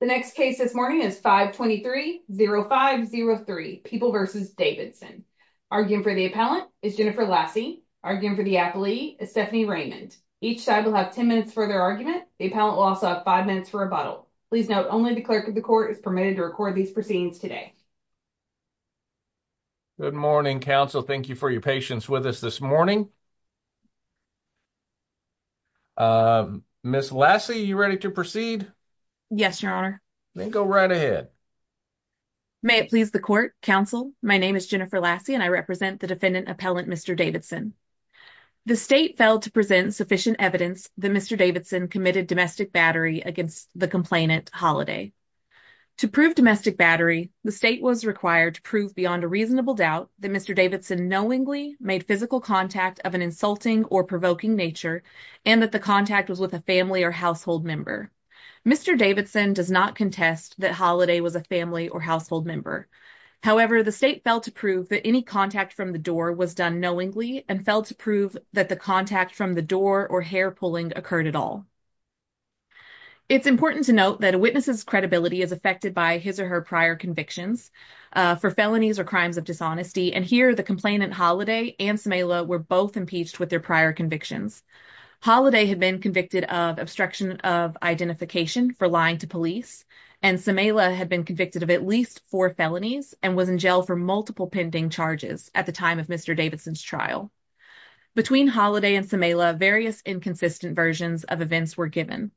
The next case this morning is 523-0503, People v. Davidson. Arguing for the appellant is Jennifer Lassie. Arguing for the appellee is Stephanie Raymond. Each side will have 10 minutes for their argument. The appellant will also have 5 minutes for rebuttal. Please note, only the clerk of the court is permitted to record these proceedings today. Good morning, counsel. Thank you for your patience with us this morning. Ms. Lassie, are you ready to proceed? Yes, your honor. Then go right ahead. May it please the court, counsel. My name is Jennifer Lassie and I represent the defendant appellant, Mr. Davidson. The state failed to present sufficient evidence that Mr. Davidson committed domestic battery against the complainant, Holiday. To prove domestic battery, the state was required to prove beyond a reasonable doubt that Mr. Davidson knowingly made physical contact of an insulting or provoking nature and that the contact was with a family or household member. Mr. Davidson does not contest that Holiday was a family or household member. However, the state failed to prove that any contact from the door was done knowingly and failed to prove that the contact from the door or hair pulling occurred at all. It's important to note that a witness's credibility is affected by his or her prior convictions for felonies or crimes of dishonesty, and here the complainant, Holiday, and Samehla were both impeached with their prior convictions. Holiday had been convicted of obstruction of identification for lying to police and Samehla had been convicted of at least four felonies and was in jail for multiple pending charges at the time of Mr. Davidson's trial. Between Holiday and Samehla, various inconsistent versions of events were given.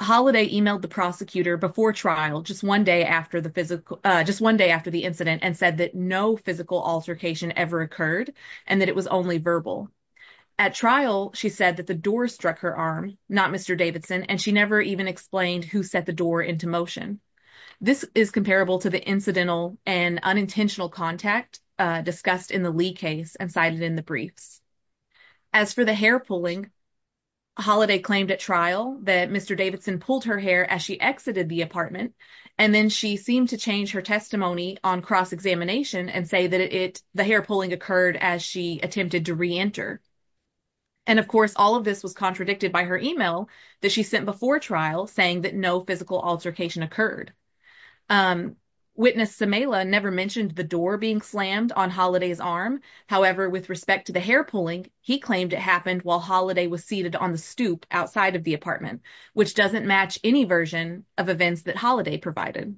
Holiday emailed the prosecutor before trial, just one day after the physical, just one day after the incident, and said that no physical altercation ever occurred and that it was only verbal. At trial, she said that the door struck her arm, not Mr. Davidson, and she never even explained who set the door into motion. This is comparable to the incidental and unintentional contact discussed in the Lee case and cited in the briefs. As for the hair pulling, Holiday claimed at trial that Mr. Davidson pulled her hair as she exited the apartment, and then she seemed to change her testimony on cross-examination and say that the hair pulling occurred as she attempted to re-enter. And of course, all of this was contradicted by her email that she sent before trial saying that no physical altercation occurred. Witness Samehla never mentioned the door being slammed on Holiday's arm. However, with respect to the hair pulling, he claimed it happened while Holiday was seated on the stoop outside of the apartment, which doesn't match any version of events that Holiday provided.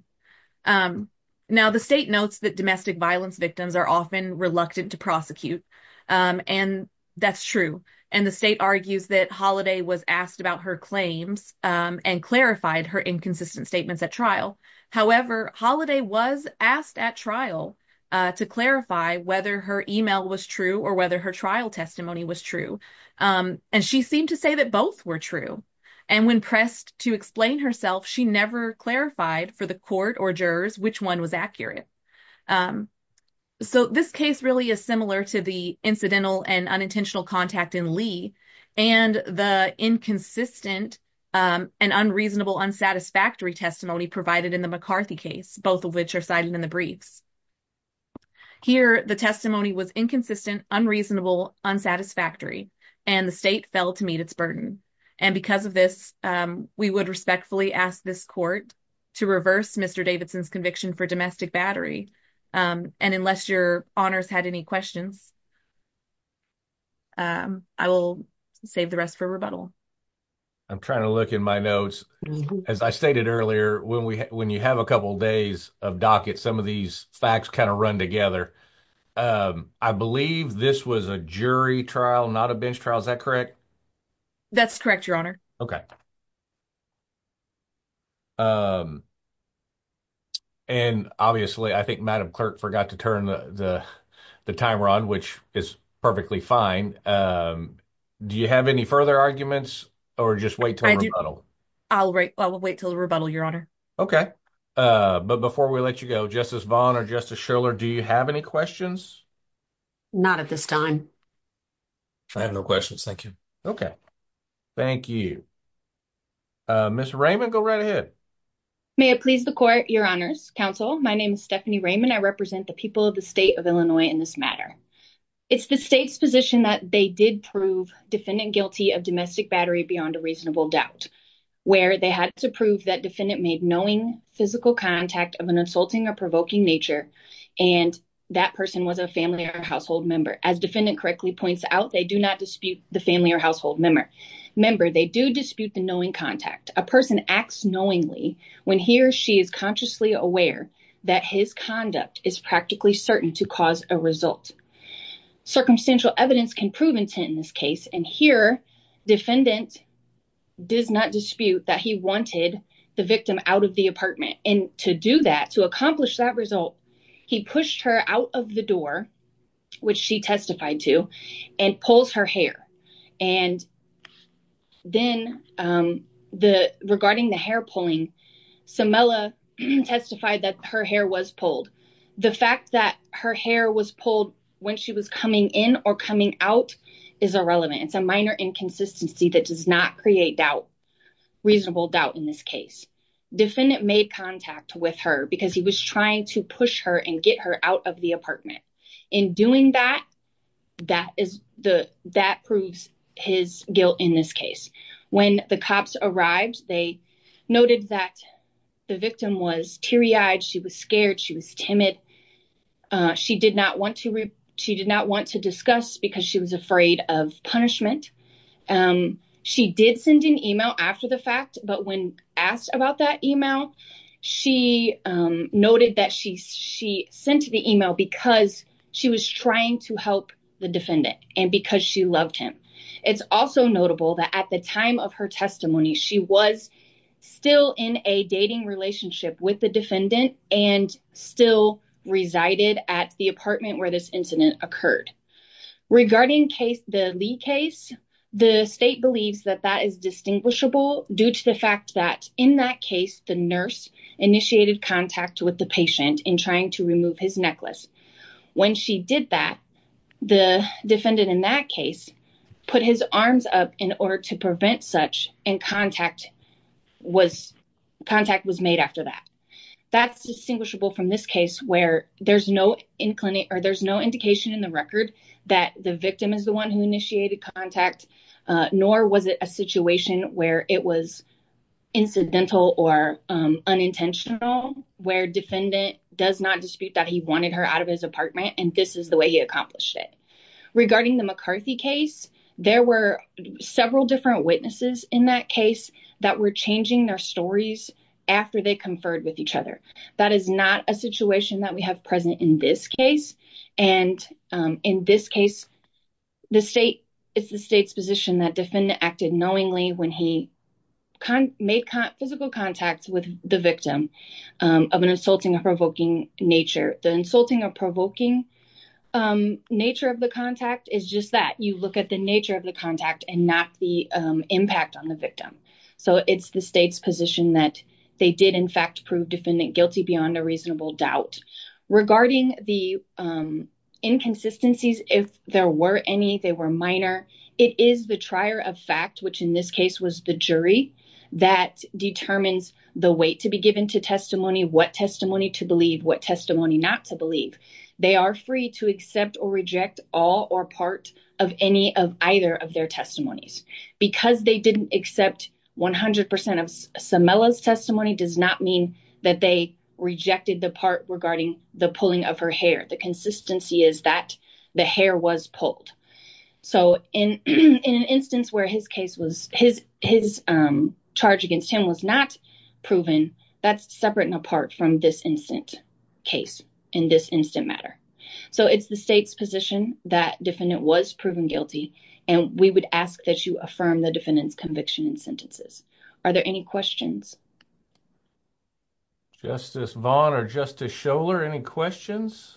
Now, the state notes that domestic violence victims are often reluctant to prosecute, and that's true. And the state argues that Holiday was asked about her claims and clarified her inconsistent statements at trial. However, Holiday was asked at trial to clarify whether her email was true or whether her trial testimony was true, and she seemed to say that both were true. And when pressed to explain herself, she never clarified for the court or jurors which one was accurate. So, this case really is similar to the incidental and unintentional contact in Lee and the inconsistent and unreasonable unsatisfactory testimony provided in the McCarthy case, both of which are cited in the briefs. Here, the testimony was inconsistent, unreasonable, unsatisfactory, and the state fell to meet its burden. And because of this, we would respectfully ask this court to reverse Mr. Davidson's conviction for domestic battery. And unless your honors had any questions, I will save the rest for rebuttal. I'm trying to look in my notes. As I stated earlier, when you have a couple of days of docket, some of these facts kind of run together. I believe this was a jury trial, not a bench trial. Is that correct? That's correct, your honor. Okay. And obviously, I think Madam Clerk forgot to turn the timer on, which is perfectly fine. Do you have any further arguments or just wait till rebuttal? I'll wait till the rebuttal, your honor. Okay. But before we let you go, Justice Vaughn or Justice Schiller, do you have any questions? Not at this time. I have no questions. Thank you. Okay. Thank you. Ms. Raymond, go right ahead. May it please the court, your honors, counsel. My name is Stephanie of Illinois in this matter. It's the state's position that they did prove defendant guilty of domestic battery beyond a reasonable doubt, where they had to prove that defendant made knowing physical contact of an insulting or provoking nature. And that person was a family or household member. As defendant correctly points out, they do not dispute the family or household member. They do dispute the knowing contact. A person acts knowingly when he or she is consciously aware that his conduct is practically certain to cause a result. Circumstantial evidence can prove intent in this case. And here, defendant does not dispute that he wanted the victim out of the apartment. And to do that, to accomplish that result, he pushed her out of the door, which she testified to, and pulls her hair. And then regarding the hair pulling, Samella testified that her hair was pulled. The fact that her hair was pulled when she was coming in or coming out is irrelevant. It's a minor inconsistency that does not create doubt, reasonable doubt in this case. Defendant made contact with her because he was trying to push her and get her out of the apartment. In doing that, that proves his guilt in this case. When the cops arrived, they noted that the victim was teary-eyed. She was scared. She was timid. She did not want to discuss because she was afraid of punishment. She did send an email after the fact, but when asked about that email, she noted that she sent the email because she was trying to help the defendant and because she loved him. It's also notable that at the time of her testimony, she was still in a dating relationship with the defendant and still resided at the apartment where this incident occurred. Regarding the Lee case, the state believes that that is distinguishable due to the fact that in that case, the nurse initiated contact with the patient in trying to remove his necklace. When she did that, the defendant in that case put his arms up in order to prevent such and contact was made after that. That's distinguishable from this case where there's no indication in the record that the victim is the one who initiated contact, nor was it a situation where it was incidental or unintentional where defendant does not dispute that he wanted her out of his and this is the way he accomplished it. Regarding the McCarthy case, there were several different witnesses in that case that were changing their stories after they conferred with each other. That is not a situation that we have present in this case. In this case, it's the state's position that defendant acted knowingly when he made physical contact with the victim of an insulting or provoking nature. The insulting or provoking nature of the contact is just that. You look at the nature of the contact and not the impact on the victim. So, it's the state's position that they did in fact prove defendant guilty beyond a reasonable doubt. Regarding the inconsistencies, if there were any, they were minor, it is the trier of fact, which in this case was the jury, that determines the weight to be given to testimony, what testimony to believe, what testimony not to believe. They are free to accept or reject all or part of any of either of their testimonies. Because they didn't accept 100% of Samela's testimony does not mean that they rejected the part regarding the pulling of her hair. The consistency is that the hair was pulled. So, in an instance where his case was, his charge against him was not proven, that's separate and apart from this instant case in this instant matter. So, it's the state's position that defendant was proven guilty and we would ask that you affirm the defendant's conviction and sentences. Are there any questions? Justice Vaughn or Justice Schoeller, any questions?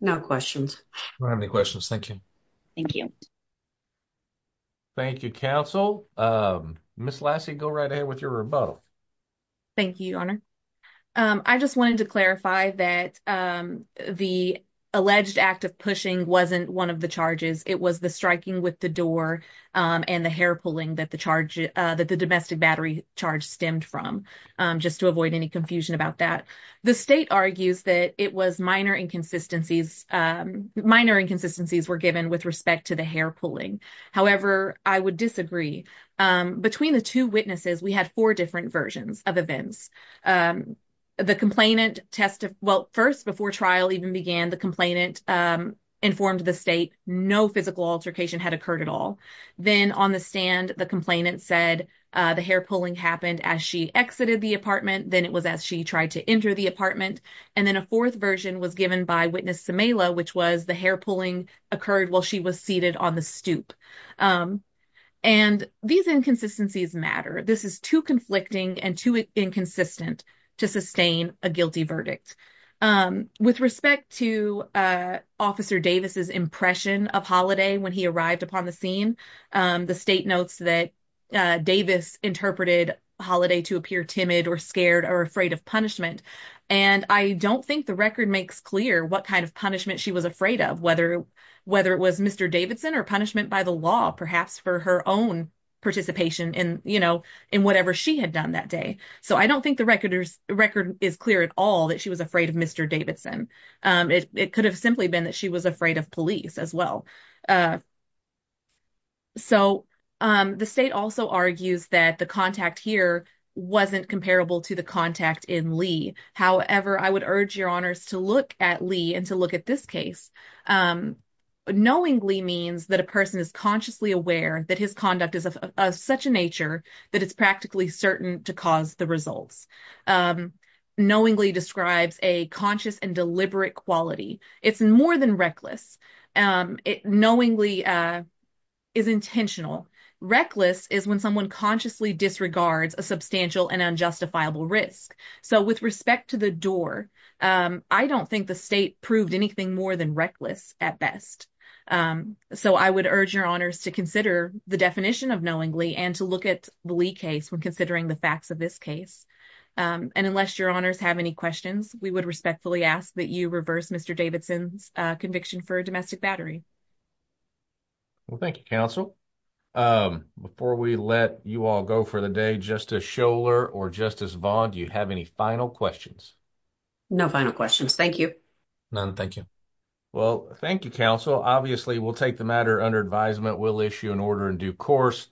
No questions. We don't have any questions. Thank you. Thank you. Thank you, counsel. Ms. Lassie, go right ahead with your rebuttal. Thank you, your honor. I just wanted to clarify that the alleged act of pushing wasn't one of the charges. It was the striking with the door and the hair pulling that the charge that the domestic battery charge stemmed from, just to avoid any confusion about that. The state argues that it was minor inconsistencies, minor inconsistencies were given with respect to the hair pulling. However, I would disagree. Between the two witnesses, we had four different versions of events. The complainant tested, well, first before trial even began, the complainant informed the state no physical altercation had occurred at all. Then on the stand, the complainant said the hair pulling happened as she exited the apartment. Then it was as she tried to enter the apartment. And then a fourth version was given by witness Cimela, which was the hair pulling occurred while she was seated on the stoop. And these inconsistencies matter. This is too conflicting and too inconsistent to sustain a guilty verdict. With respect to Officer Davis's impression of Holiday when he arrived upon the scene, the state notes that Davis interpreted Holiday to appear timid or scared or afraid of punishment. And I don't think the record makes clear what kind of punishment she was afraid of, whether it was Mr. Davidson or punishment by the law, perhaps for her own participation in, you know, in whatever she had done that day. So I don't think the record is clear at all that she was afraid of Mr. Davidson. It could have simply been that she was afraid of police as well. So the state also argues that the contact here wasn't comparable to the contact in Lee. However, I would urge your honors to look at Lee and to look at this case. Knowingly means that a person is consciously aware that his conduct is of such a nature that it's practically certain to cause the results. Knowingly describes a conscious and deliberate quality. It's more than reckless. Knowingly is intentional. Reckless is when someone consciously disregards a substantial and unjustifiable risk. So with respect to the door, I don't think the state proved anything more than reckless at best. So I would urge your honors to consider the definition of knowingly and to look at the Lee case when considering the facts of this case. And unless your honors have any questions, we would respectfully ask that you reverse Mr. Davidson's conviction for a domestic battery. Well, thank you, counsel. Before we let you all go for the day, Justice Scholar or Justice Vaughn, do you have any final questions? No final questions. Thank you. None. Thank you. Well, thank you, counsel. Obviously, we'll take the matter under advisement. We'll issue an order in due course.